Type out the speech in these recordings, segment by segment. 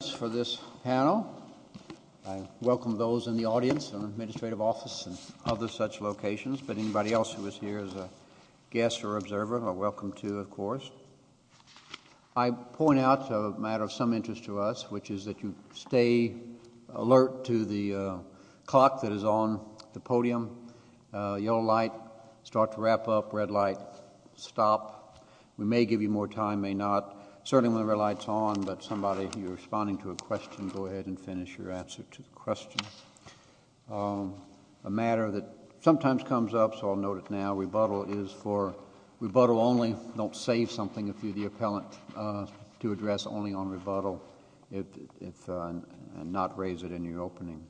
Thanks for this panel. I welcome those in the audience in the administrative office and other such locations, but anybody else who is here as a guest or observer are welcome to, of course. I point out a matter of some interest to us, which is that you stay alert to the clock that is on the podium. Yellow light, start to wrap up. Red light, stop. We may give you more time, may not. Certainly when the red light's on, but somebody, you're responding to a question, go ahead and finish your answer to the question. A matter that sometimes comes up, so I'll note it now. Rebuttal is for... rebuttal only. Don't save something if you're the appellant, to address only on rebuttal and not raise it in your opening.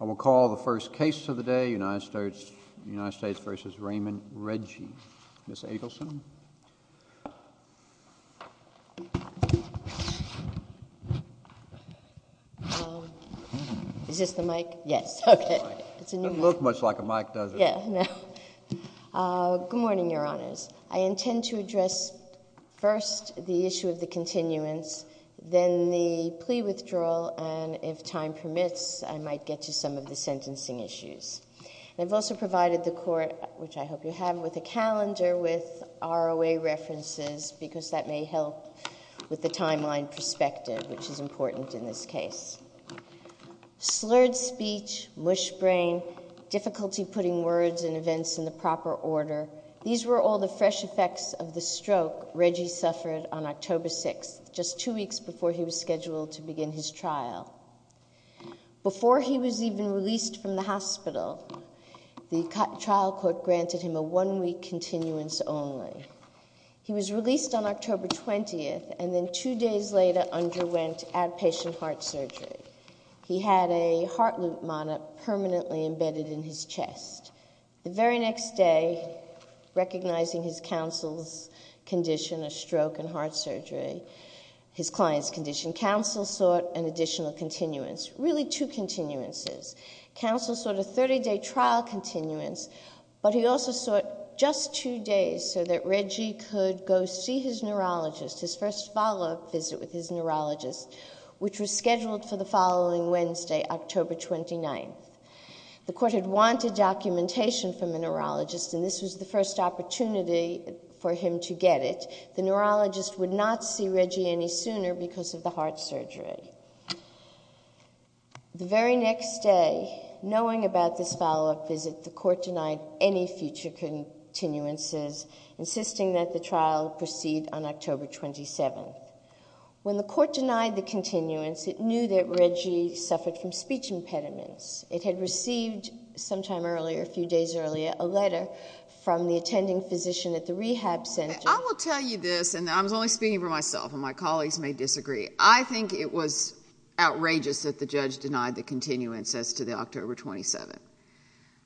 I will call the first case of the day, United States v. Raymond Reggie. Ms. Adelson? Is this the mic? Yes. Okay. It's a new mic. Doesn't look much like a mic, does it? Yeah, no. Good morning, Your Honors. I intend to address first the issue of the continuance, then the plea withdrawal, and if time permits, I might get to some of the sentencing issues. I've also provided the court, which I hope you have, with a calendar with ROA references, because that may help with the timeline perspective, which is important in this case. Slurred speech, mush brain, difficulty putting words and events in the proper order, these were all the fresh effects of the stroke Reggie suffered on October 6th, just two weeks before he was scheduled to begin his trial. Before he was even released from the hospital, the trial court granted him a one-week continuance only. He was released on October 20th, and then two days later underwent outpatient heart surgery. He had a heart loop monop permanently embedded in his chest. The very next day, recognizing his counsel's condition, a stroke and heart surgery, his client's condition, counsel sought an additional continuance, really two continuances. Counsel sought a 30-day trial continuance, but he also sought just two days so that Reggie could go see his neurologist, his first follow-up visit with his neurologist, which was scheduled for the following Wednesday, October 29th. The court had wanted documentation from the neurologist, and this was the first opportunity for him to get it. The neurologist would not see Reggie any sooner because of the heart surgery. The very next day, knowing about this follow-up visit, the court denied any future continuances, insisting that the trial proceed on October 27th. When the court denied the continuance, it knew that Reggie suffered from speech impediments. It had received sometime earlier, a few days earlier, a letter from the attending physician at the rehab center. I will tell you this, and I'm only speaking for myself, and my colleagues may disagree. I think it was outrageous that the judge denied the continuance as to the October 27th.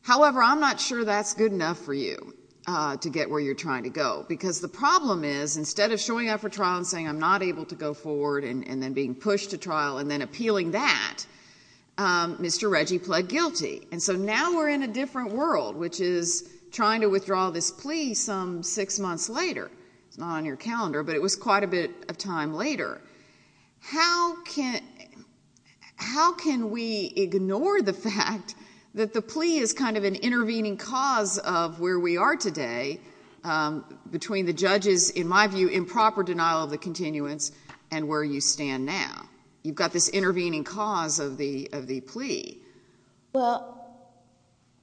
However, I'm not sure that's good enough for you to get where you're trying to go, because the problem is, instead of showing up for trial and saying, I'm not able to go forward, and then being pushed to trial, and then appealing that, Mr. Reggie pled guilty. And so now we're in a different world, which is trying to withdraw this plea some six months later. It's not on your calendar, but it was quite a bit of time later. How can we ignore the fact that the plea is kind of an intervening cause of where we are today, between the judge's, in my view, improper denial of the continuance, and where you stand now? You've got this intervening cause of the plea. Well,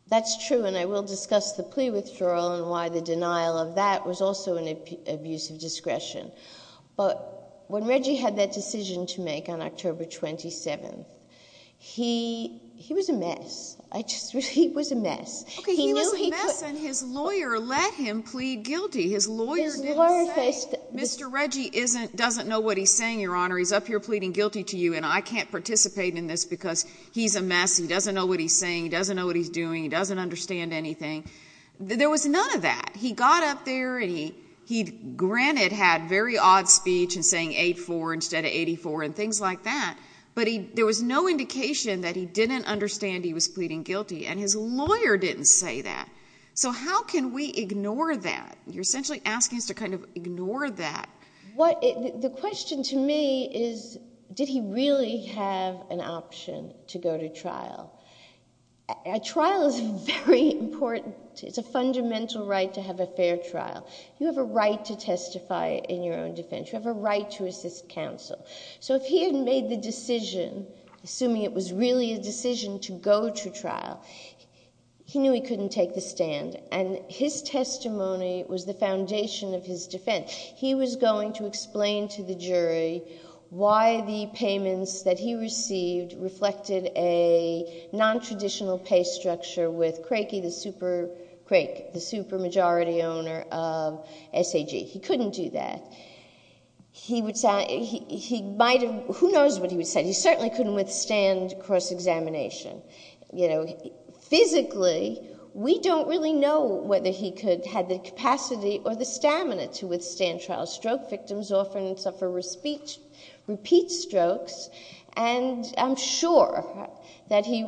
that's true, and I will discuss the plea withdrawal and why the denial of that was also an abuse of discretion. But when Reggie had that decision to make on October 27th, he was a mess. He was a mess. Okay, he was a mess, and his lawyer let him plead guilty. His lawyer didn't say, Mr. Reggie doesn't know what he's saying, Your Honor. He's up here pleading guilty to you, and I can't participate in this because he's a mess. He doesn't know what he's saying. He doesn't know what he's doing. He doesn't understand anything. There was none of that. He got up for his last speech and sang 8-4 instead of 84 and things like that, but there was no indication that he didn't understand he was pleading guilty, and his lawyer didn't say that. So how can we ignore that? You're essentially asking us to kind of ignore that. The question to me is, did he really have an option to go to trial? A trial is a fundamental right to have a fair trial. You have a right to testify in your own defense. You have a right to assist counsel. So if he had made the decision, assuming it was really a decision to go to trial, he knew he couldn't take the stand, and his testimony was the foundation of his defense. He was going to explain to the jury why the payments that he received reflected a nontraditional pay structure with Craig, the super majority owner of SAG. He couldn't do that. Who knows what he would say? He certainly couldn't withstand cross-examination. Physically, we don't really know whether he could have the capacity or the stamina to that he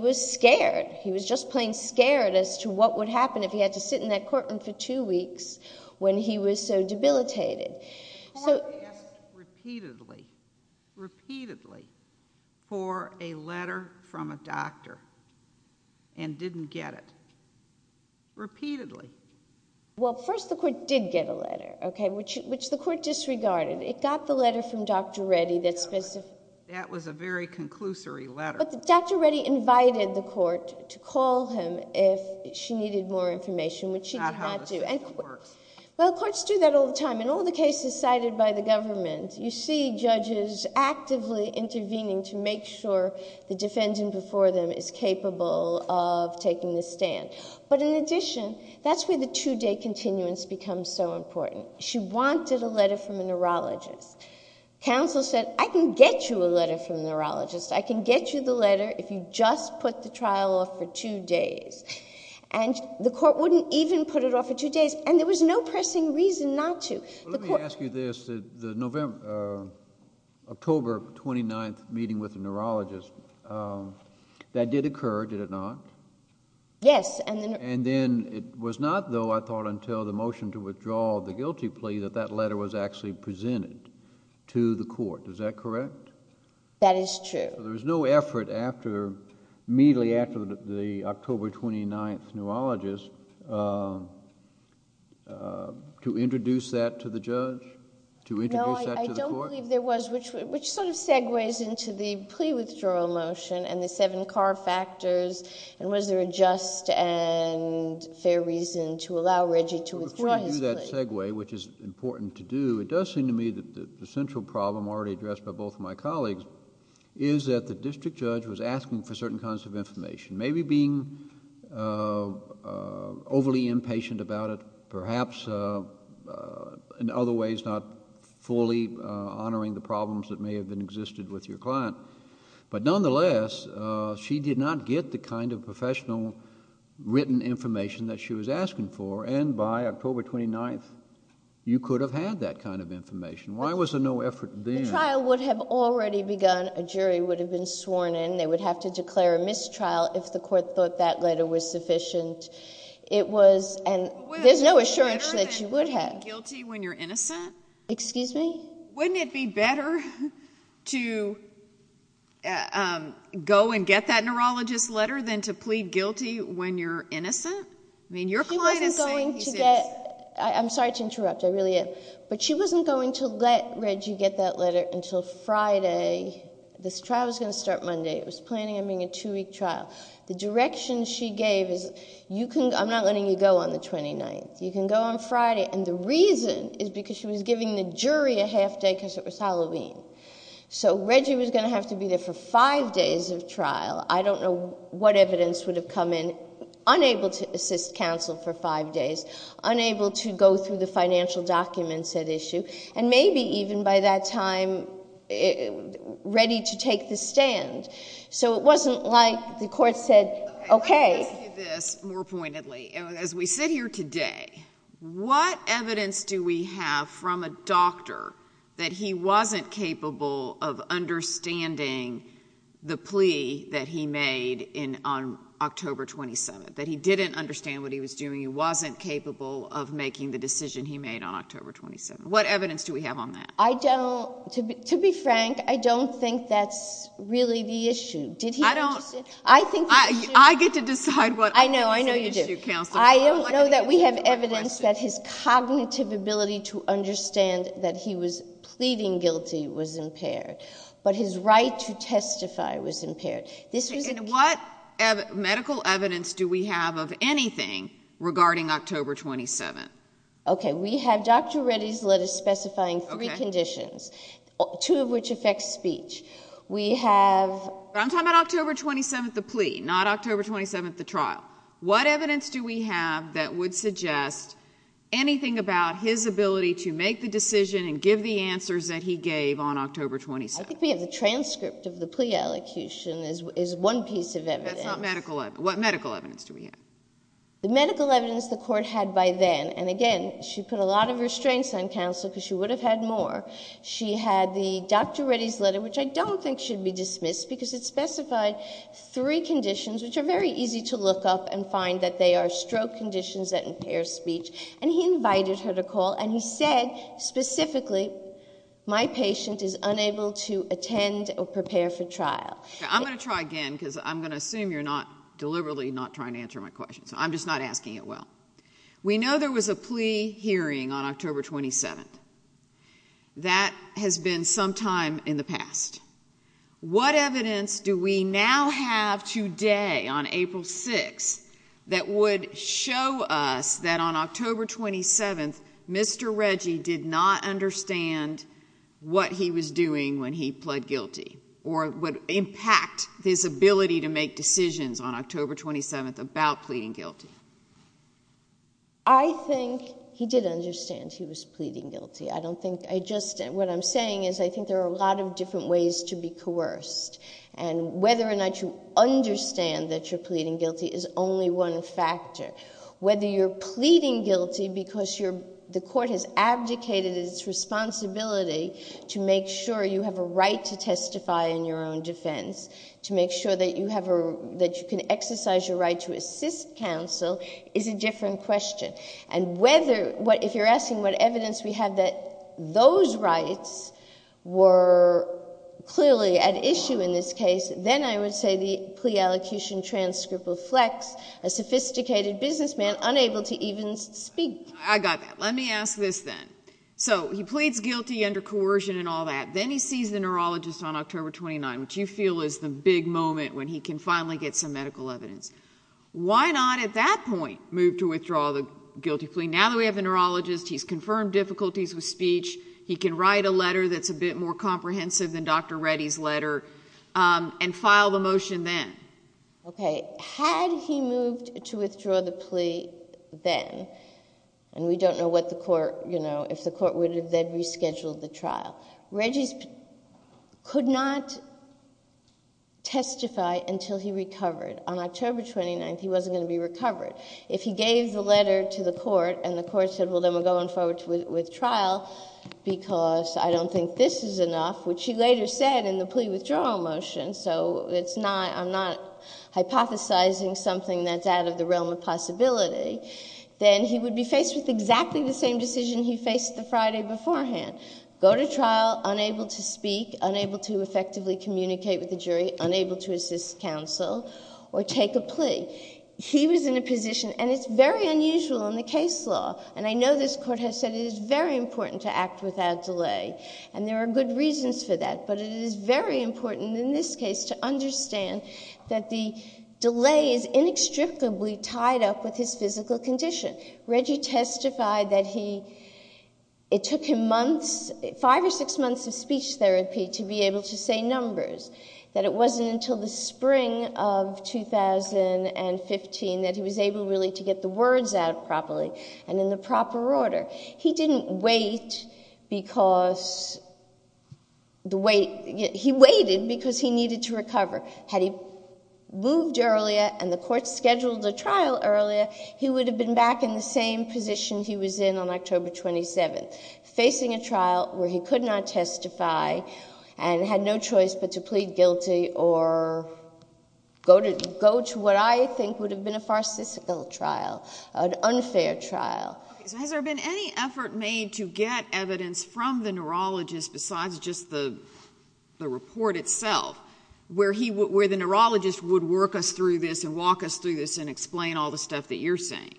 was scared. He was just plain scared as to what would happen if he had to sit in that courtroom for two weeks when he was so debilitated. The court asked repeatedly, repeatedly, for a letter from a doctor and didn't get it. Repeatedly. Well, first, the court did get a letter, okay, which the court disregarded. It got the letter from Dr. Reddy that specified But Dr. Reddy invited the court to call him if she needed more information, which she did not do. That's not how the system works. Well, courts do that all the time. In all the cases cited by the government, you see judges actively intervening to make sure the defendant before them is capable of taking the stand. But in addition, that's where the two-day continuance becomes so important. She wanted a letter from a neurologist. Counsel said, I can get you a letter from a neurologist. I can get you the letter if you just put the trial off for two days. And the court wouldn't even put it off for two days. And there was no pressing reason not to. Let me ask you this. The October 29th meeting with the neurologist, that did occur, did it not? Yes. And then it was not, though, I thought, until the motion to withdraw the guilty plea that that letter was actually presented to the court. Is that correct? That is true. So there was no effort immediately after the October 29th neurologist to introduce that to the judge, to introduce that to the court? No, I don't believe there was. Which sort of segues into the plea withdrawal motion and the seven car factors, and was there a just and fair reason to allow Reggie to withdraw his plea? Before you do that segue, which is important to do, it does seem to me that the central problem already addressed by both of my colleagues is that the district judge was asking for certain kinds of information, maybe being overly impatient about it, perhaps in other ways not fully honoring the problems that may have existed with your client. But nonetheless, she did not get the kind of professional written information that she was asking for, and by October 29th, you could have had that kind of information. Why was there no effort then? The trial would have already begun. A jury would have been sworn in. They would have to declare a mistrial if the court thought that letter was sufficient. It was, and there's no assurance that you would have. Wouldn't it be better than being guilty when you're innocent? Excuse me? Wouldn't it be better to go and get that neurologist's letter than to plead guilty when you're innocent? I mean, your client is saying, he says... I'm sorry to interrupt. I really am. But she wasn't going to let Reggie get that letter until Friday. This trial was going to start Monday. It was planning on being a two-week trial. The direction she gave is, I'm not letting you go on the 29th. You can go on the half-day because it was Halloween. So Reggie was going to have to be there for five days of trial. I don't know what evidence would have come in, unable to assist counsel for five days, unable to go through the financial documents at issue, and maybe even by that time ready to take the stand. So it wasn't like the court said, okay... Let me ask you this more pointedly. As we sit here today, what evidence do we have from a doctor that he wasn't capable of understanding the plea that he made on October 27th? That he didn't understand what he was doing. He wasn't capable of making the decision he made on October 27th. What evidence do we have on that? To be frank, I don't think that's really the issue. Did he understand? I get to decide what is the issue, counsel. I don't know that we have evidence that his cognitive ability to understand that he was pleading guilty was impaired, but his right to testify was impaired. And what medical evidence do we have of anything regarding October 27th? Okay, we have Dr. Reddy's letter specifying three conditions, two of which affect speech. We have... What evidence do we have that would suggest anything about his ability to make the decision and give the answers that he gave on October 27th? I think we have the transcript of the plea elocution is one piece of evidence. That's not medical evidence. What medical evidence do we have? The medical evidence the court had by then, and again, she put a lot of restraints on counsel because she would have had more. She had the Dr. Reddy's letter, which I don't think should be dismissed because it specified three conditions, which are very easy to look up and find that they are stroke conditions that impair speech. And he invited her to call, and he said specifically, my patient is unable to attend or prepare for trial. I'm going to try again because I'm going to assume you're not deliberately not trying to answer my question, so I'm just not asking it well. We know there was a plea hearing on October 27th. That has been some time in the past. What evidence do we now have today on April 6th that would show us that on October 27th, Mr. Reddy did not understand what he was doing when he pled guilty or would impact his ability to make decisions on October 27th about pleading guilty? I think he did understand he was pleading guilty. What I'm saying is I think there are a lot of different ways to be coerced, and whether or not you understand that you're pleading guilty is only one factor. Whether you're pleading guilty because the court has abdicated its responsibility to make sure you have a right to testify in your own defense, to make sure that you can exercise your right to assist counsel, is a different question. And if you're asking what evidence we have that those rights were clearly at issue in this case, then I would say the plea allocution transcript reflects a sophisticated businessman unable to even speak. I got that. Let me ask this then. So he pleads guilty under coercion and all that. Then he sees the neurologist on October 29th, which you feel is the big moment when he can finally get some medical evidence. Why not at that point move to withdraw the guilty plea? Now that we have the neurologist, he's confirmed difficulties with speech, he can write a letter that's a bit more comprehensive than Dr. Reddy's letter, and file the motion then. Okay. Had he moved to withdraw the plea then, and we don't know what the court, you know, if the court would have then rescheduled the trial, Reddy could not testify until he recovered. On October 29th, he wasn't going to be recovered. If he gave the letter to the court and the court said, well, then we're going forward with trial because I don't think this is enough, which he later said in the plea withdrawal motion, so it's not, I'm not hypothesizing something that's out of the realm of possibility, then he would be faced with exactly the same decision he faced the Friday beforehand. Go to trial, unable to speak, unable to effectively communicate with the jury, unable to assist counsel or take a plea. He was in a position, and it's very unusual in the case law, and I know this court has said it is very important to act without delay, and there are good reasons for that, but it is very important in this case to understand that the delay is inextricably tied up with his physical condition. Reddy testified that he, it took him months, five or six months of speech therapy to be in numbers, that it wasn't until the spring of 2015 that he was able really to get the words out properly and in the proper order. He didn't wait because the wait, he waited because he needed to recover. Had he moved earlier and the court scheduled the trial earlier, he would have been back in the same position he was in on October 27th, facing a trial where he could not testify and had no choice but to plead guilty or go to what I think would have been a farcistical trial, an unfair trial. Okay, so has there been any effort made to get evidence from the neurologist besides just the report itself where the neurologist would work us through this and walk us through this and explain all the stuff that you're saying?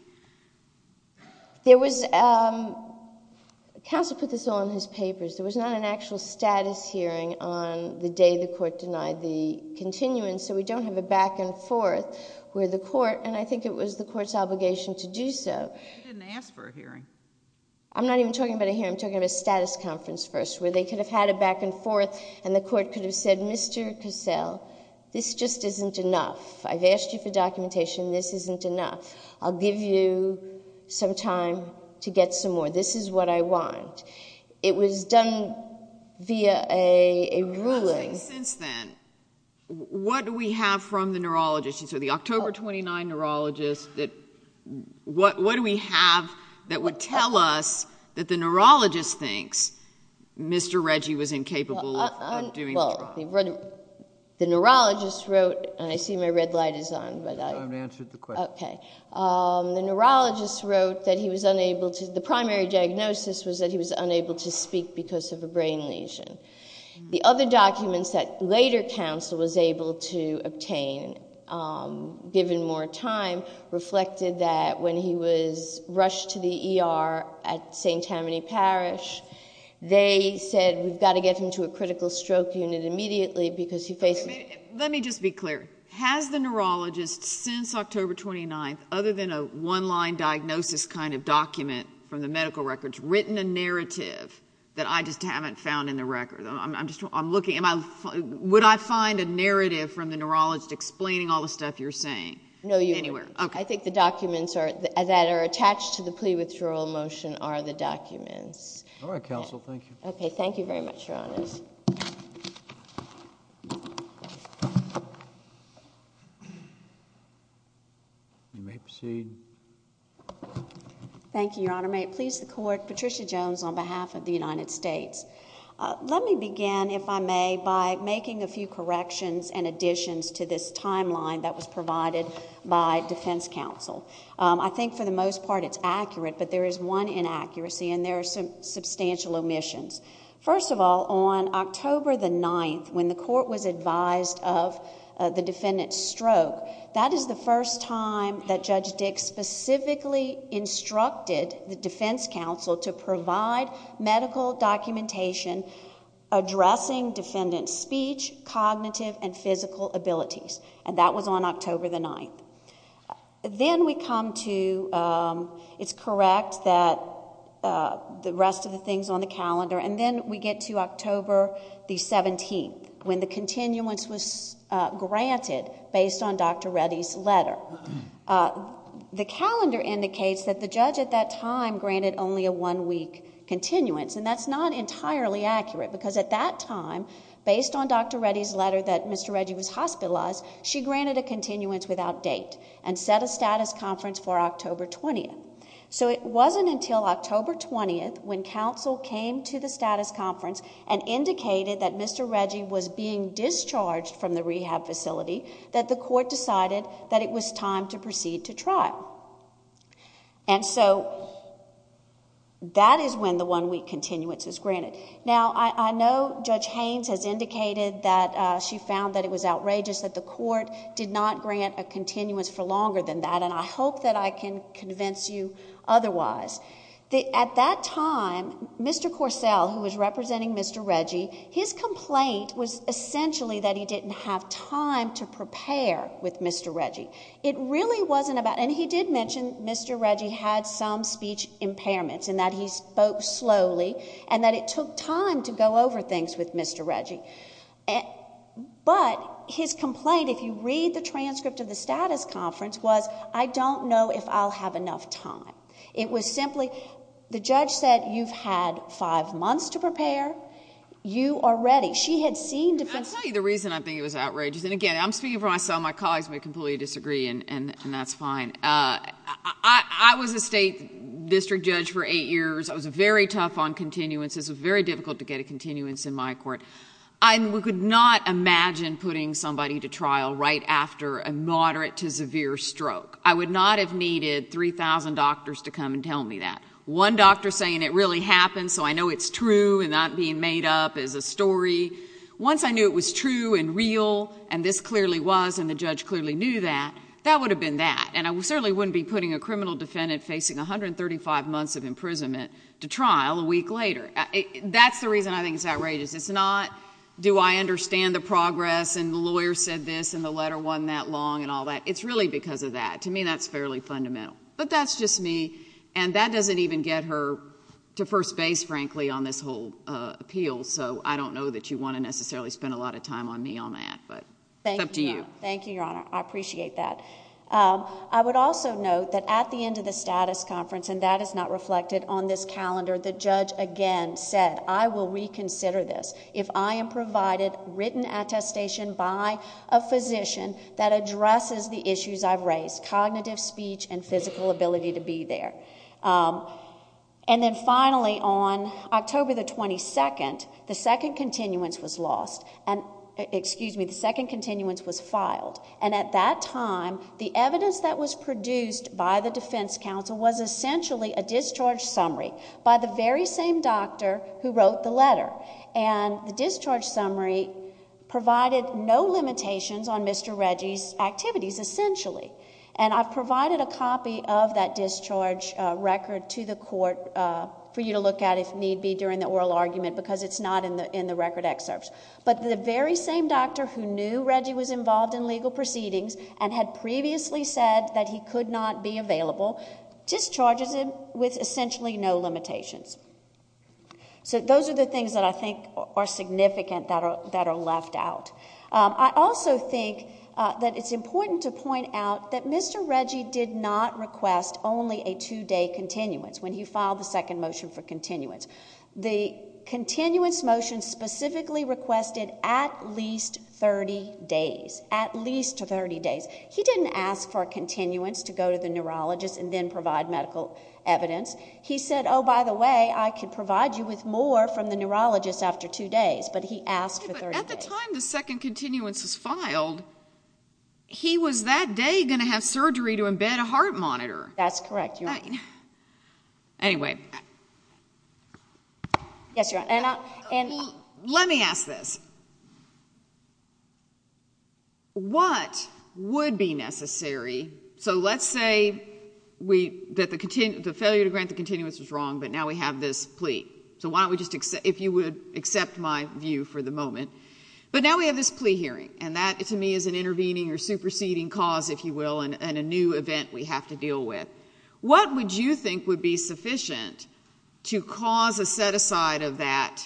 There was, counsel put this all in his papers, there was not an actual status hearing on the day the court denied the continuance, so we don't have a back and forth where the court, and I think it was the court's obligation to do so. You didn't ask for a hearing. I'm not even talking about a hearing, I'm talking about a status conference first where they could have had a back and forth and the court could have said, Mr. Cassell, this just isn't enough. I've asked you for documentation, this isn't enough. I'll give you some time to get some more. This is what I want. It was done via a ruling. You're asking since then, what do we have from the neurologist, you said the October 29 neurologist, what do we have that would tell us that the neurologist thinks Mr. Reggie was incapable of doing the trial? The neurologist wrote, and I see my red light is on. I haven't answered the question. The neurologist wrote that he was unable to, the primary diagnosis was that he was unable to speak because of a brain lesion. The other documents that later counsel was able to obtain, given more time, reflected that when he was rushed to the ER at St. Tammany Parish, they said we've got to get him to a critical stroke unit immediately because he faces. Let me just be clear, has the neurologist since October 29, other than a one-line diagnosis kind of document from the medical records, written a narrative that I just haven't found in the record? I'm just, I'm looking, would I find a narrative from the neurologist explaining all the stuff you're saying? No, you wouldn't. I think the documents that are attached to the plea withdrawal motion are the documents. All right, counsel, thank you. Okay, thank you very much, Your Honors. You may proceed. Thank you, Your Honor. May it please the Court, Patricia Jones on behalf of the United States. Let me begin, if I may, by making a few corrections and additions to this timeline that was provided by defense counsel. I think for the most part it's accurate, but there is one inaccuracy and there are some substantial omissions. First of all, on October the 9th, when the court was advised of the defendant's stroke, that is the first time that Judge Dix specifically instructed the defense counsel to provide medical documentation addressing defendant's speech, cognitive, and physical abilities, and that was on October the 9th. Then we come to, it's correct that the rest of the things on the calendar, and then we get to October the 17th, when the continuance was granted based on Dr. Reddy's letter. The calendar indicates that the judge at that time granted only a one-week continuance, and that's not entirely accurate, because at that time, based on Dr. Reddy's letter that Mr. Reddy was hospitalized, she granted a continuance without date and set a status conference for October 20th. So it wasn't until October 20th, when counsel came to the status conference and indicated that Mr. Reddy was being discharged from the rehab facility, that the court decided that it was time to proceed to trial. And so that is when the one-week continuance is granted. Now, I know Judge Haynes has indicated that she found that it was outrageous that the court did not grant a continuance for longer than that, and I hope that I can convince you otherwise. At that time, Mr. Corsell, who was representing Mr. Reddy, his complaint was essentially that he didn't have time to prepare with Mr. Reddy. It really wasn't about, and he did mention Mr. Reddy had some speech impairments in that he spoke slowly, and that it took time to go over things with Mr. Reddy. But his complaint, if you read the transcript of the status conference, was, I don't know if I'll have enough time. It was simply, the judge said, you've had five months to prepare. You are ready. She had seen... I'll tell you the reason I think it was outrageous, and again, I'm speaking for myself. My colleagues may completely disagree, and that's fine. I was a state district judge for eight years. I was very tough on continuances. It was very difficult to get a continuance in my court. I could not imagine putting somebody to trial right after a moderate to severe stroke. I would not have needed 3,000 doctors to come and tell me that. One doctor saying it really happened, so I know it's true and not being made up as a story. Once I knew it was true and real, and this clearly was, and the judge clearly knew that, that would have been that. I certainly wouldn't be putting a criminal defendant facing 135 months of imprisonment to trial a week later. That's the reason I think it's outrageous. It's not, do I understand the progress, and the lawyer said this, and the letter wasn't that long, and all that. It's really because of that. To me, that's fairly fundamental, but that's just me, and that doesn't even get her to first base, frankly, on this whole appeal, so I don't know that you want to necessarily spend a lot of time on me on that, but it's up to you. Thank you, Your Honor. I appreciate that. I would also note that at the end of the status conference, and that is not reflected on this calendar, the judge again said, I will reconsider this if I am provided written attestation by a physician that addresses the issues I've raised, cognitive speech and physical ability to be there. Then finally, on October the 22nd, the second continuance was lost, excuse me, the second continuance, and at that time, the evidence that was produced by the defense counsel was essentially a discharge summary by the very same doctor who wrote the letter, and the discharge summary provided no limitations on Mr. Reggie's activities, essentially. I've provided a copy of that discharge record to the court for you to look at if need be during the oral argument, because it's not in the record excerpts, but the very same doctor who knew Reggie was involved in legal proceedings and had previously said that he could not be available discharges him with essentially no limitations. So those are the things that I think are significant that are left out. I also think that it's important to point out that Mr. Reggie did not request only a two-day continuance when he filed the second motion for continuance. The continuance motion specifically requested at least 30 days, at least 30 days. He didn't ask for a continuance to go to the neurologist and then provide medical evidence. He said, oh, by the way, I could provide you with more from the neurologist after two days, but he asked for 30 days. But at the time the second continuance was filed, he was that day going to have surgery That's correct, Your Honor. Anyway, let me ask this, what would be necessary, so let's say that the failure to grant the continuance was wrong, but now we have this plea, so why don't we just, if you would accept my view for the moment, but now we have this plea hearing, and that to me is an intervening or superseding cause, if you will, and a new event we have to deal with. What would you think would be sufficient to cause a set-aside of that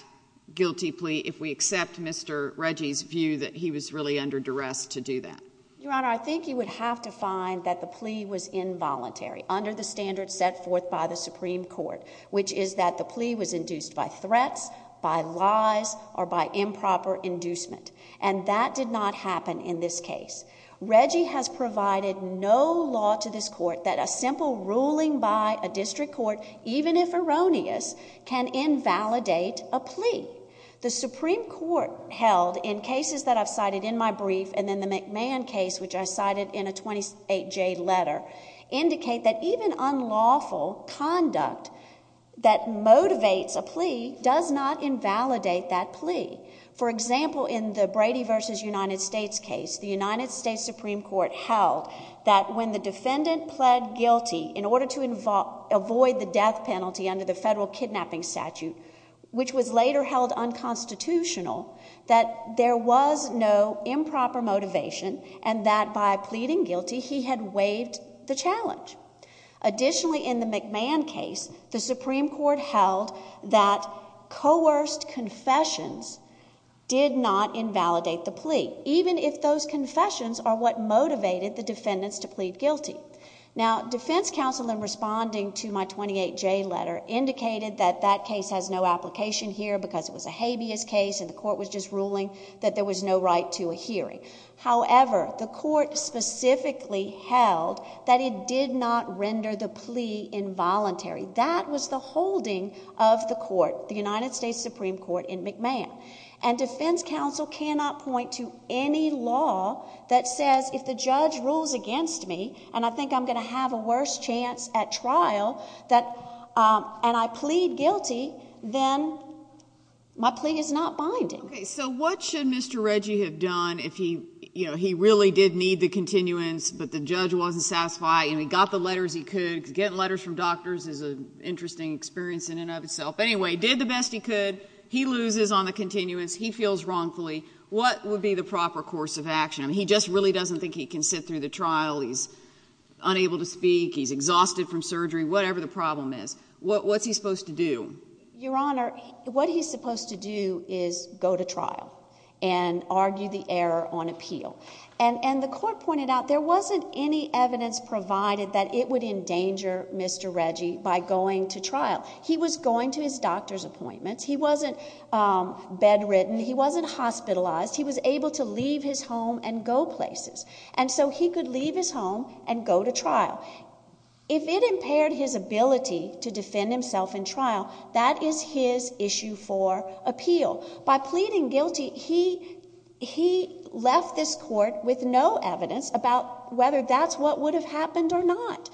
guilty plea if we accept Mr. Reggie's view that he was really under duress to do that? Your Honor, I think you would have to find that the plea was involuntary, under the standards set forth by the Supreme Court, which is that the plea was induced by threats, by lies, or by improper inducement. And that did not happen in this case. Reggie has provided no law to this court that a simple ruling by a district court, even if erroneous, can invalidate a plea. The Supreme Court held, in cases that I've cited in my brief, and then the McMahon case, which I cited in a 28-J letter, indicate that even unlawful conduct that motivates a plea does not invalidate that plea. For example, in the Brady v. United States case, the United States Supreme Court held that when the defendant pled guilty in order to avoid the death penalty under the federal kidnapping statute, which was later held unconstitutional, that there was no improper motivation, and that by pleading guilty, he had waived the challenge. Additionally, in the McMahon case, the Supreme Court held that coerced confessions did not invalidate the plea, even if those confessions are what motivated the defendants to plead guilty. Now, defense counsel, in responding to my 28-J letter, indicated that that case has no application here, because it was a habeas case, and the court was just ruling that there was no right to a hearing. However, the court specifically held that it did not render the plea involuntary. That was the holding of the court, the United States Supreme Court, in McMahon. And defense counsel cannot point to any law that says, if the judge rules against me, and I think I'm going to have a worse chance at trial, and I plead guilty, then my plea is not binding. OK, so what should Mr. Reggie have done if he really did need the continuance, but the judge wasn't satisfied, and he got the letters he could, because getting letters from doctors is an interesting experience in and of itself, anyway, did the best he could, he loses on the continuance, he feels wrongfully, what would be the proper course of action? He just really doesn't think he can sit through the trial, he's unable to speak, he's exhausted from surgery, whatever the problem is. What's he supposed to do? Your Honor, what he's supposed to do is go to trial, and argue the error on appeal. And the court pointed out, there wasn't any evidence provided that it would endanger Mr. Reggie by going to trial. He was going to his doctor's appointments, he wasn't bedridden, he wasn't hospitalized, he was able to leave his home and go places. Now, if it impaired his ability to defend himself in trial, that is his issue for appeal. By pleading guilty, he left this court with no evidence about whether that's what would have happened or not.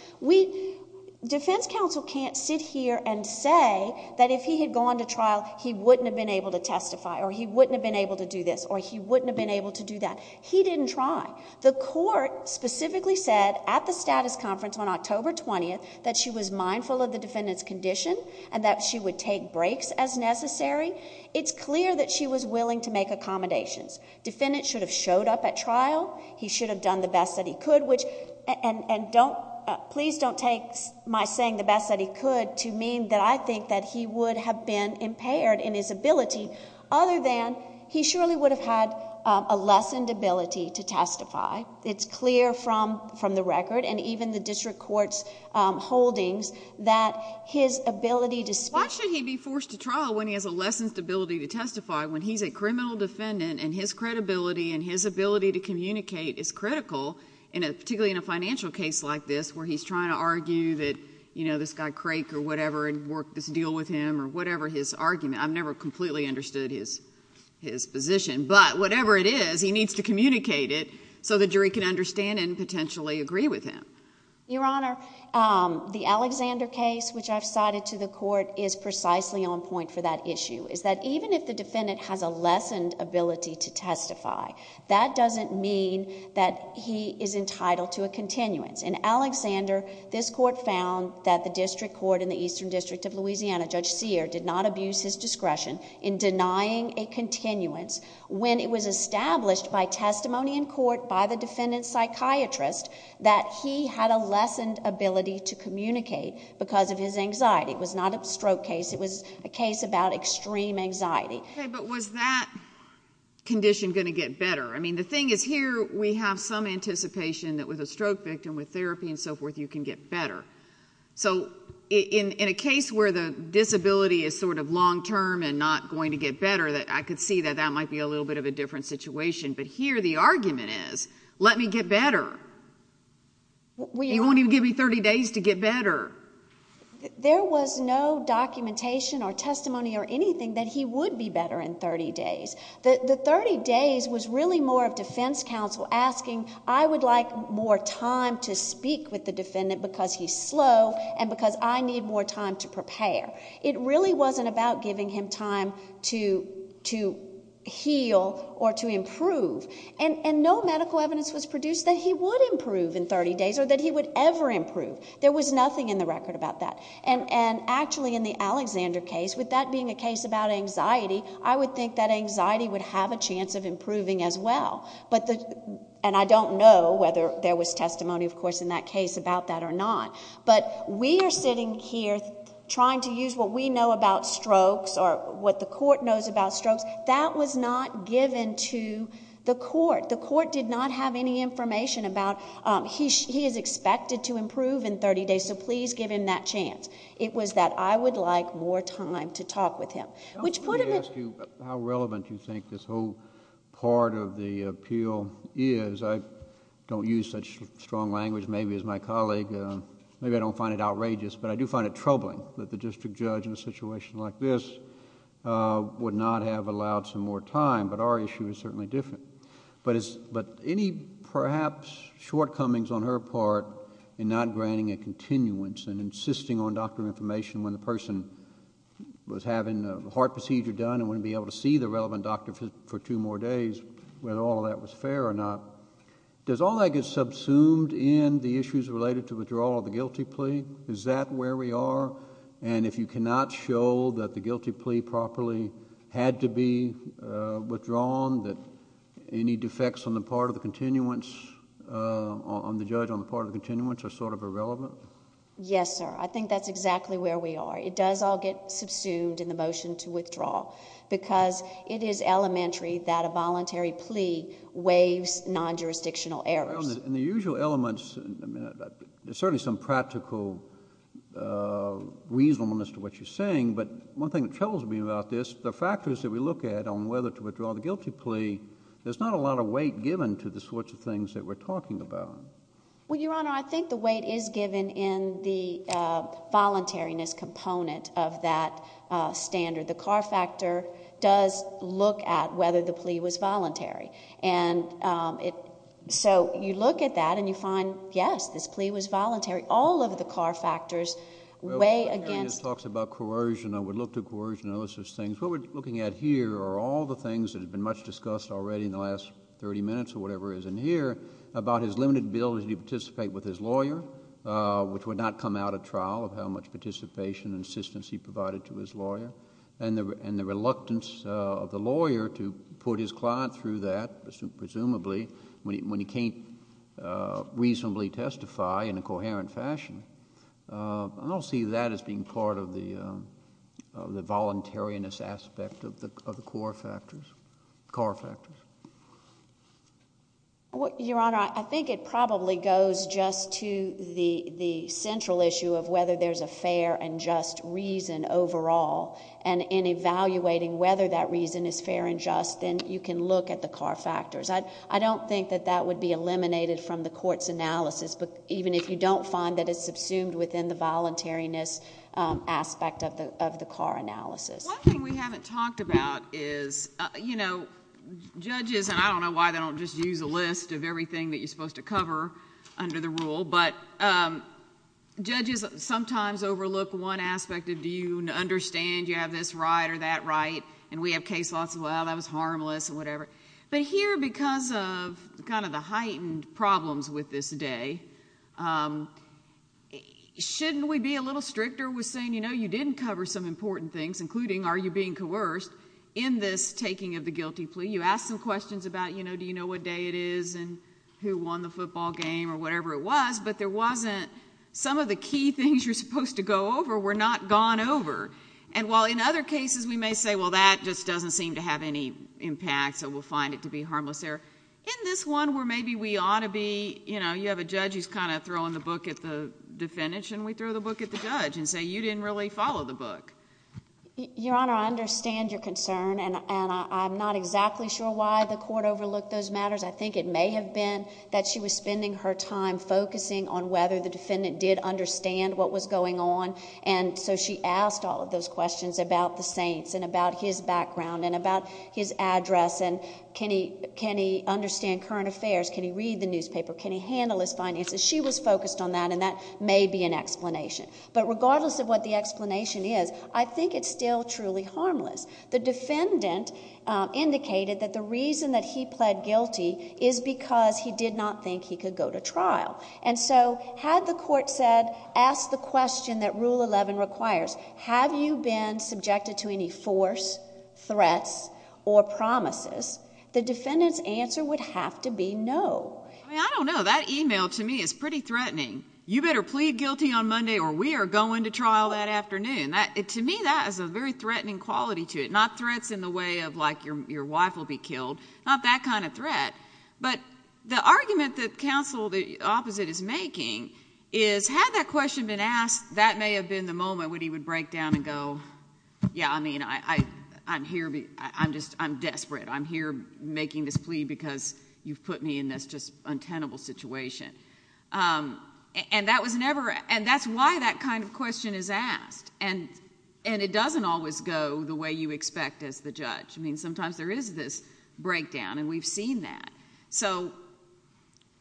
Defense counsel can't sit here and say that if he had gone to trial, he wouldn't have been able to testify, or he wouldn't have been able to do this, or he wouldn't have been able to do that. He didn't try. The court specifically said, at the status conference on October 20th, that she was mindful of the defendant's condition, and that she would take breaks as necessary. It's clear that she was willing to make accommodations. Defendant should have showed up at trial, he should have done the best that he could, and please don't take my saying the best that he could to mean that I think that he would have been impaired in his ability, other than he surely would have had a lessened ability to testify. It's clear from the record, and even the district court's holdings, that his ability to speak... Why should he be forced to trial when he has a lessened ability to testify, when he's a criminal defendant, and his credibility and his ability to communicate is critical, particularly in a financial case like this, where he's trying to argue that, you know, this guy Craig or whatever had worked this deal with him, or whatever his argument... I've never completely understood his position, but whatever it is, he needs to communicate it so the jury can understand and potentially agree with him. Your Honor, the Alexander case, which I've cited to the court, is precisely on point for that issue, is that even if the defendant has a lessened ability to testify, that doesn't mean that he is entitled to a continuance. In Alexander, this court found that the district court in the Eastern District of Louisiana, Judge Sear, did not abuse his discretion in denying a continuance, when it was established by testimony in court by the defendant's psychiatrist, that he had a lessened ability to communicate because of his anxiety. It was not a stroke case. It was a case about extreme anxiety. Okay, but was that condition going to get better? I mean, the thing is, here we have some anticipation that with a stroke victim, with therapy and so forth, you can get better. So in a case where the disability is sort of long-term and not going to get better, I could see that that might be a little bit of a different situation, but here the argument is, let me get better. He won't even give me thirty days to get better. There was no documentation or testimony or anything that he would be better in thirty days. The thirty days was really more of defense counsel asking, I would like more time to slow, and because I need more time to prepare. It really wasn't about giving him time to heal or to improve, and no medical evidence was produced that he would improve in thirty days or that he would ever improve. There was nothing in the record about that, and actually in the Alexander case, with that being a case about anxiety, I would think that anxiety would have a chance of improving as well, and I don't know whether there was testimony, of course, in that case about that or not. But we are sitting here trying to use what we know about strokes or what the court knows about strokes. That was not given to the court. The court did not have any information about, he is expected to improve in thirty days, so please give him that chance. It was that I would like more time to talk with him, which put him... Let me ask you how relevant you think this whole part of the appeal is. I don't use such strong language, maybe, as my colleague. Maybe I don't find it outrageous, but I do find it troubling that the district judge in a situation like this would not have allowed some more time, but our issue is certainly different. But any perhaps shortcomings on her part in not granting a continuance and insisting on doctor information when the person was having a heart procedure done and wouldn't be able to see the relevant doctor for two more days, whether all of that was fair or not, does all that get subsumed in the issues related to withdrawal of the guilty plea? Is that where we are? If you cannot show that the guilty plea properly had to be withdrawn, that any defects on the part of the continuance, on the judge on the part of the continuance, are sort of irrelevant? Yes, sir. I think that's exactly where we are. It does all get subsumed in the motion to withdraw because it is elementary that a judge waives non-jurisdictional errors. In the usual elements, there's certainly some practical reasonableness to what you're saying, but one thing that troubles me about this, the factors that we look at on whether to withdraw the guilty plea, there's not a lot of weight given to the sorts of things that we're talking about. Well, Your Honor, I think the weight is given in the voluntariness component of that standard. The Carr Factor does look at whether the plea was voluntary, and so you look at that and you find, yes, this plea was voluntary. All of the Carr Factors weigh against... Well, when Mary talks about coercion, I would look to coercion and those sorts of things. What we're looking at here are all the things that have been much discussed already in the last thirty minutes or whatever it is in here about his limited ability to participate with his lawyer, which would not come out at trial of how much participation and assistance he provided to his lawyer, and the reluctance of the lawyer to put his client through that, presumably, when he can't reasonably testify in a coherent fashion. I don't see that as being part of the voluntariness aspect of the Carr Factors. Your Honor, I think it probably goes just to the central issue of whether there's a fair and just reason overall, and in evaluating whether that reason is fair and just, then you can look at the Carr Factors. I don't think that that would be eliminated from the court's analysis, even if you don't find that it's subsumed within the voluntariness aspect of the Carr Analysis. One thing we haven't talked about is, judges, and I don't know why they don't just use a list of everything that you're supposed to cover under the rule, but judges sometimes overlook one aspect of, do you understand you have this right or that right, and we have case laws, well, that was harmless, and whatever. Here, because of the heightened problems with this day, shouldn't we be a little stricter with saying, you know, you didn't cover some important things, including, are you being coerced in this taking of the guilty plea? You asked some questions about, do you know what day it is, and who won the football game? These are things you're supposed to go over. We're not gone over, and while in other cases, we may say, well, that just doesn't seem to have any impact, so we'll find it to be harmless there, in this one where maybe we ought to be, you know, you have a judge who's kind of throwing the book at the defendant, shouldn't we throw the book at the judge and say, you didn't really follow the book? Your Honor, I understand your concern, and I'm not exactly sure why the court overlooked those matters. I think it may have been that she was spending her time focusing on whether the defendant, what was going on, and so she asked all of those questions about the Saints and about his background and about his address, and can he understand current affairs? Can he read the newspaper? Can he handle his finances? She was focused on that, and that may be an explanation. But regardless of what the explanation is, I think it's still truly harmless. The defendant indicated that the reason that he pled guilty is because he did not think he could go to trial. And so had the court said, ask the question that Rule 11 requires, have you been subjected to any force, threats, or promises, the defendant's answer would have to be no. I mean, I don't know. That email, to me, is pretty threatening. You better plead guilty on Monday or we are going to trial that afternoon. To me, that has a very threatening quality to it, not threats in the way of like your wife will be killed, not that kind of threat. But the argument that counsel, the opposite, is making is, had that question been asked, that may have been the moment when he would break down and go, yeah, I mean, I'm here, I'm just, I'm desperate. I'm here making this plea because you've put me in this just untenable situation. And that was never, and that's why that kind of question is asked, and it doesn't always go the way you expect as the judge. I mean, sometimes there is this breakdown and we've seen that. So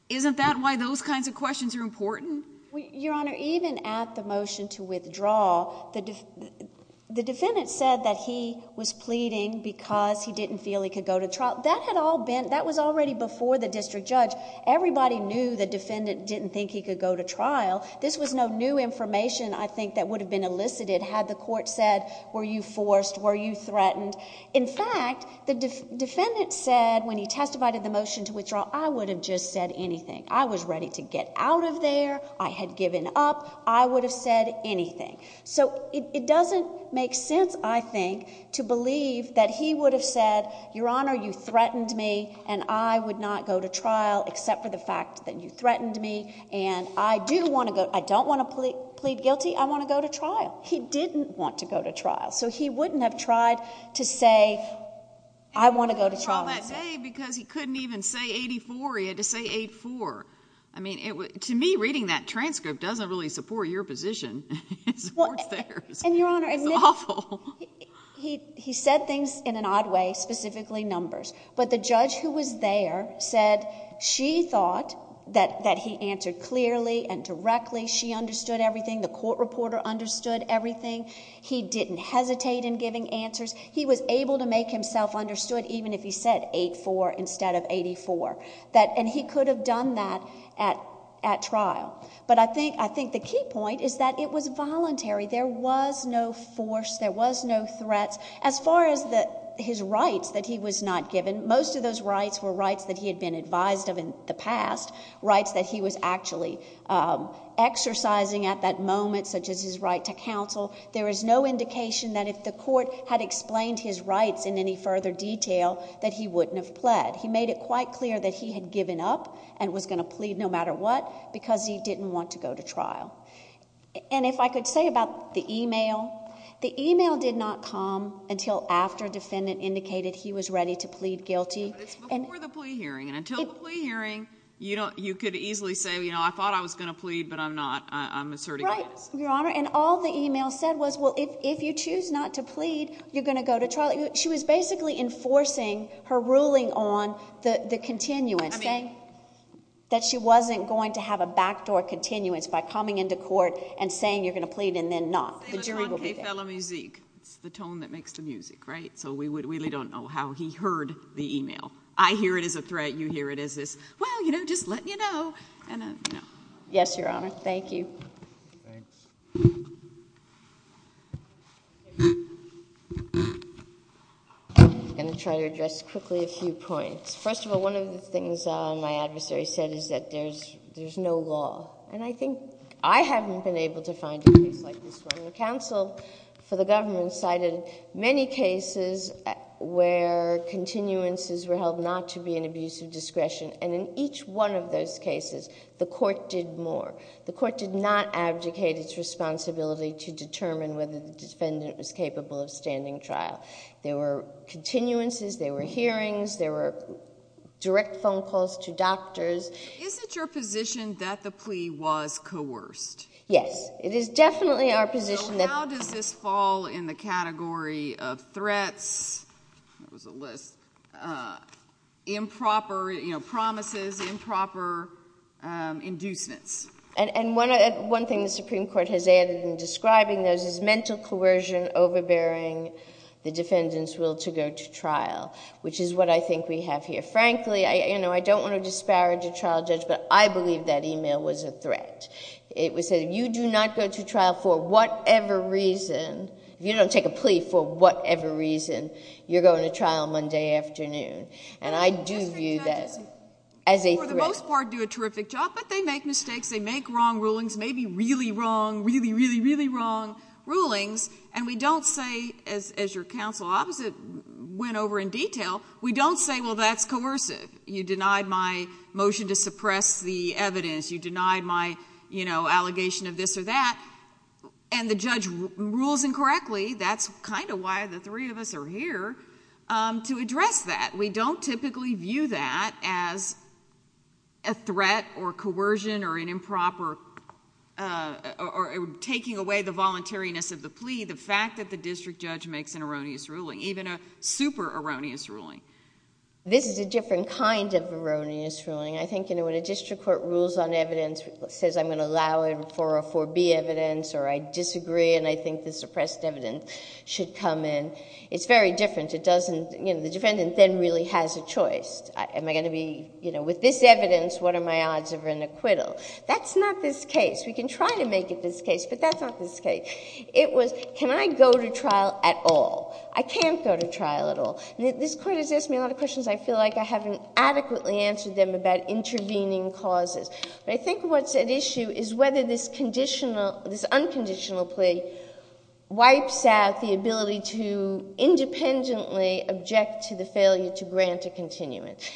isn't that why those kinds of questions are important? Your Honor, even at the motion to withdraw, the defendant said that he was pleading because he didn't feel he could go to trial. That had all been, that was already before the district judge. Everybody knew the defendant didn't think he could go to trial. This was no new information, I think, that would have been elicited had the court said, were you forced, were you threatened? And in fact, the defendant said when he testified at the motion to withdraw, I would have just said anything. I was ready to get out of there, I had given up, I would have said anything. So it doesn't make sense, I think, to believe that he would have said, Your Honor, you threatened me and I would not go to trial except for the fact that you threatened me and I do want to go, I don't want to plead guilty, I want to go to trial. He didn't want to go to trial. So he wouldn't have tried to say, I want to go to trial. He couldn't go to trial that day because he couldn't even say 84, he had to say 84. I mean, to me, reading that transcript doesn't really support your position, it supports theirs. It's awful. He said things in an odd way, specifically numbers. But the judge who was there said she thought that he answered clearly and directly, she understood everything, the court reporter understood everything. He didn't hesitate in giving answers. He was able to make himself understood even if he said 84 instead of 84. And he could have done that at trial. But I think the key point is that it was voluntary, there was no force, there was no threat. As far as his rights that he was not given, most of those rights were rights that he had been advised of in the past, rights that he was actually exercising at that moment, such as his right to counsel. There is no indication that if the court had explained his rights in any further detail that he wouldn't have pled. He made it quite clear that he had given up and was going to plead no matter what because he didn't want to go to trial. And if I could say about the email, the email did not come until after defendant indicated he was ready to plead guilty. But it's before the plea hearing, and until the plea hearing, you could easily say, you know, I thought I was going to plead, but I'm not, I'm asserting innocence. And all the email said was, well, if you choose not to plead, you're going to go to trial. She was basically enforcing her ruling on the continuance, saying that she wasn't going to have a backdoor continuance by coming into court and saying you're going to plead and then not. The jury will be there. It's the tone that makes the music, right? So we really don't know how he heard the email. I hear it as a threat, you hear it as this, well, you know, just letting you know. Yes, Your Honor. Thank you. Thanks. I'm going to try to address quickly a few points. First of all, one of the things my adversary said is that there's, there's no law. And I think I haven't been able to find a case like this one. The counsel for the government cited many cases where continuances were held not to be an abuse of discretion. And in each one of those cases, the court did more. The court did not abdicate its responsibility to determine whether the defendant was capable of standing trial. There were continuances. There were hearings. There were direct phone calls to doctors. Is it your position that the plea was coerced? Yes. It is definitely our position that... So how does this fall in the category of threats, that was a list, improper, you know, promises, improper inducements? And one thing the Supreme Court has added in describing those is mental coercion, overbearing the defendant's will to go to trial, which is what I think we have here. Frankly, you know, I don't want to disparage a trial judge, but I believe that email was a threat. It said, if you do not go to trial for whatever reason, if you don't take a plea for whatever reason, you're going to trial Monday afternoon. And I do view that as a threat. For the most part, do a terrific job, but they make mistakes. They make wrong rulings, maybe really wrong, really, really, really wrong rulings. And we don't say, as your counsel opposite went over in detail, we don't say, well, that's coercive. You denied my motion to suppress the evidence. You denied my, you know, allegation of this or that. And the judge rules incorrectly. That's kind of why the three of us are here, to address that. We don't typically view that as a threat or coercion or an improper... or taking away the voluntariness of the plea, the fact that the district judge makes an erroneous ruling, even a super erroneous ruling. This is a different kind of erroneous ruling. I think, you know, when a district court rules on evidence, says I'm going to allow it for a 4B evidence, or I disagree and I think the suppressed evidence should come in, it's very different. It doesn't, you know, the defendant then really has a choice. Am I going to be, you know, with this evidence, what are my odds of an acquittal? That's not this case. We can try to make it this case, but that's not this case. It was, can I go to trial at all? I can't go to trial at all. This court has asked me a lot of questions I feel like I haven't adequately answered them about intervening causes. But I think what's at issue is whether this unconditional plea wipes out the ability to independently object to the failure to grant a continuance.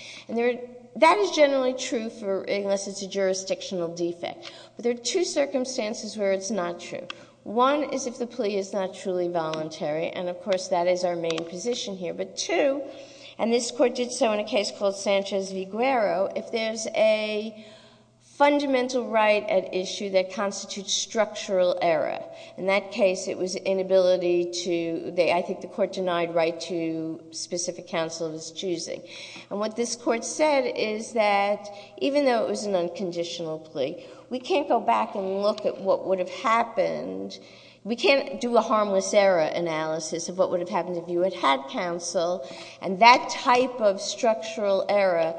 That is generally true for, unless it's a jurisdictional defect. But there are two circumstances where it's not true. One is if the plea is not truly voluntary, and of course that is our main position here. But two, and this court did so in a case called Sanchez v. Guero, if there's a fundamental right at issue that constitutes structural error, in that case it was inability to, I think the court denied right to specific counsel of its choosing. And what this court said is that even though it was an unconditional plea, we can't go back and look at what would have happened. We can't do a harmless error analysis of what would have happened if you had had counsel. And that type of structural error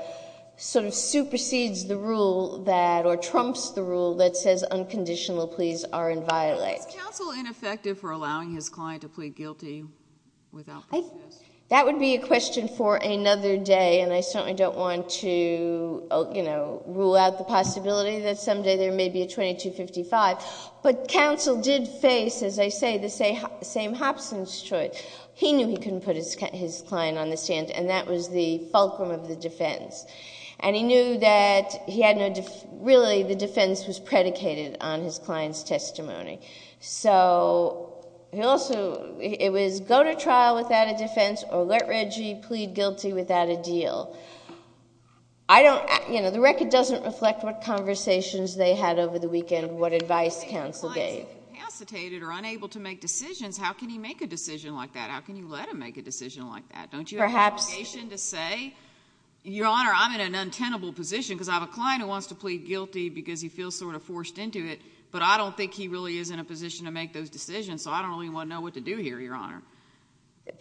sort of supersedes the rule that, or trumps the rule that says unconditional pleas are inviolate. Is counsel ineffective for allowing his client to plead guilty without process? That would be a question for another day, and I certainly don't want to rule out the possibility that someday there may be a 2255. But counsel did face, as I say, the same Hobson's choice. He knew he couldn't put his client on the stand, and that was the fulcrum of the defense. And he knew that he had no... really the defense was predicated on his client's testimony. So he also... it was go to trial without a defense or let Reggie plead guilty without a deal. I don't... you know, the record doesn't reflect what conversations they had over the weekend, what advice counsel gave. If the client is incapacitated or unable to make decisions, how can he make a decision like that? How can you let him make a decision like that? Don't you have an obligation to say... Perhaps... Your Honor, I'm in an untenable position, because I have a client who wants to plead guilty because he feels sort of forced into it, but I don't think he really is in a position to make those decisions, so I don't really want to know what to do here, Your Honor.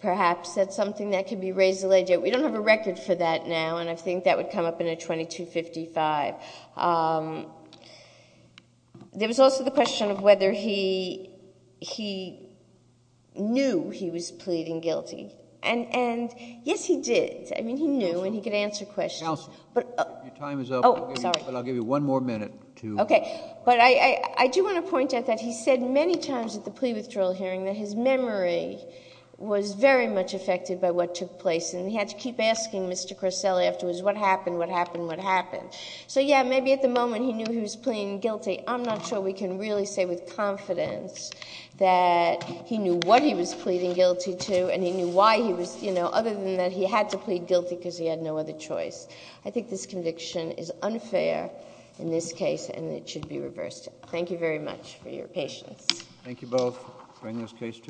Perhaps that's something that could be raised a little later. We don't have a record for that now, and I think that would come up in a 2255. There was also the question of whether he knew he was pleading guilty, and yes, he did. I mean, he knew, and he could answer questions. Counsel, your time is up, but I'll give you one more minute to... Okay. But I do want to point out that he said many times at the plea withdrawal hearing that his memory was very much affected by what took place, and he had to keep asking Mr. Corselli afterwards what happened, what happened, what happened. So yeah, maybe at the moment he knew he was pleading guilty. I'm not sure we can really say with confidence that he knew what he was pleading guilty to, and he knew why he was... other than that he had to plead guilty because he had no other choice. I think this conviction is unfair in this case, and it should be reversed. Thank you very much for your patience. Thank you both. Bring this case to a...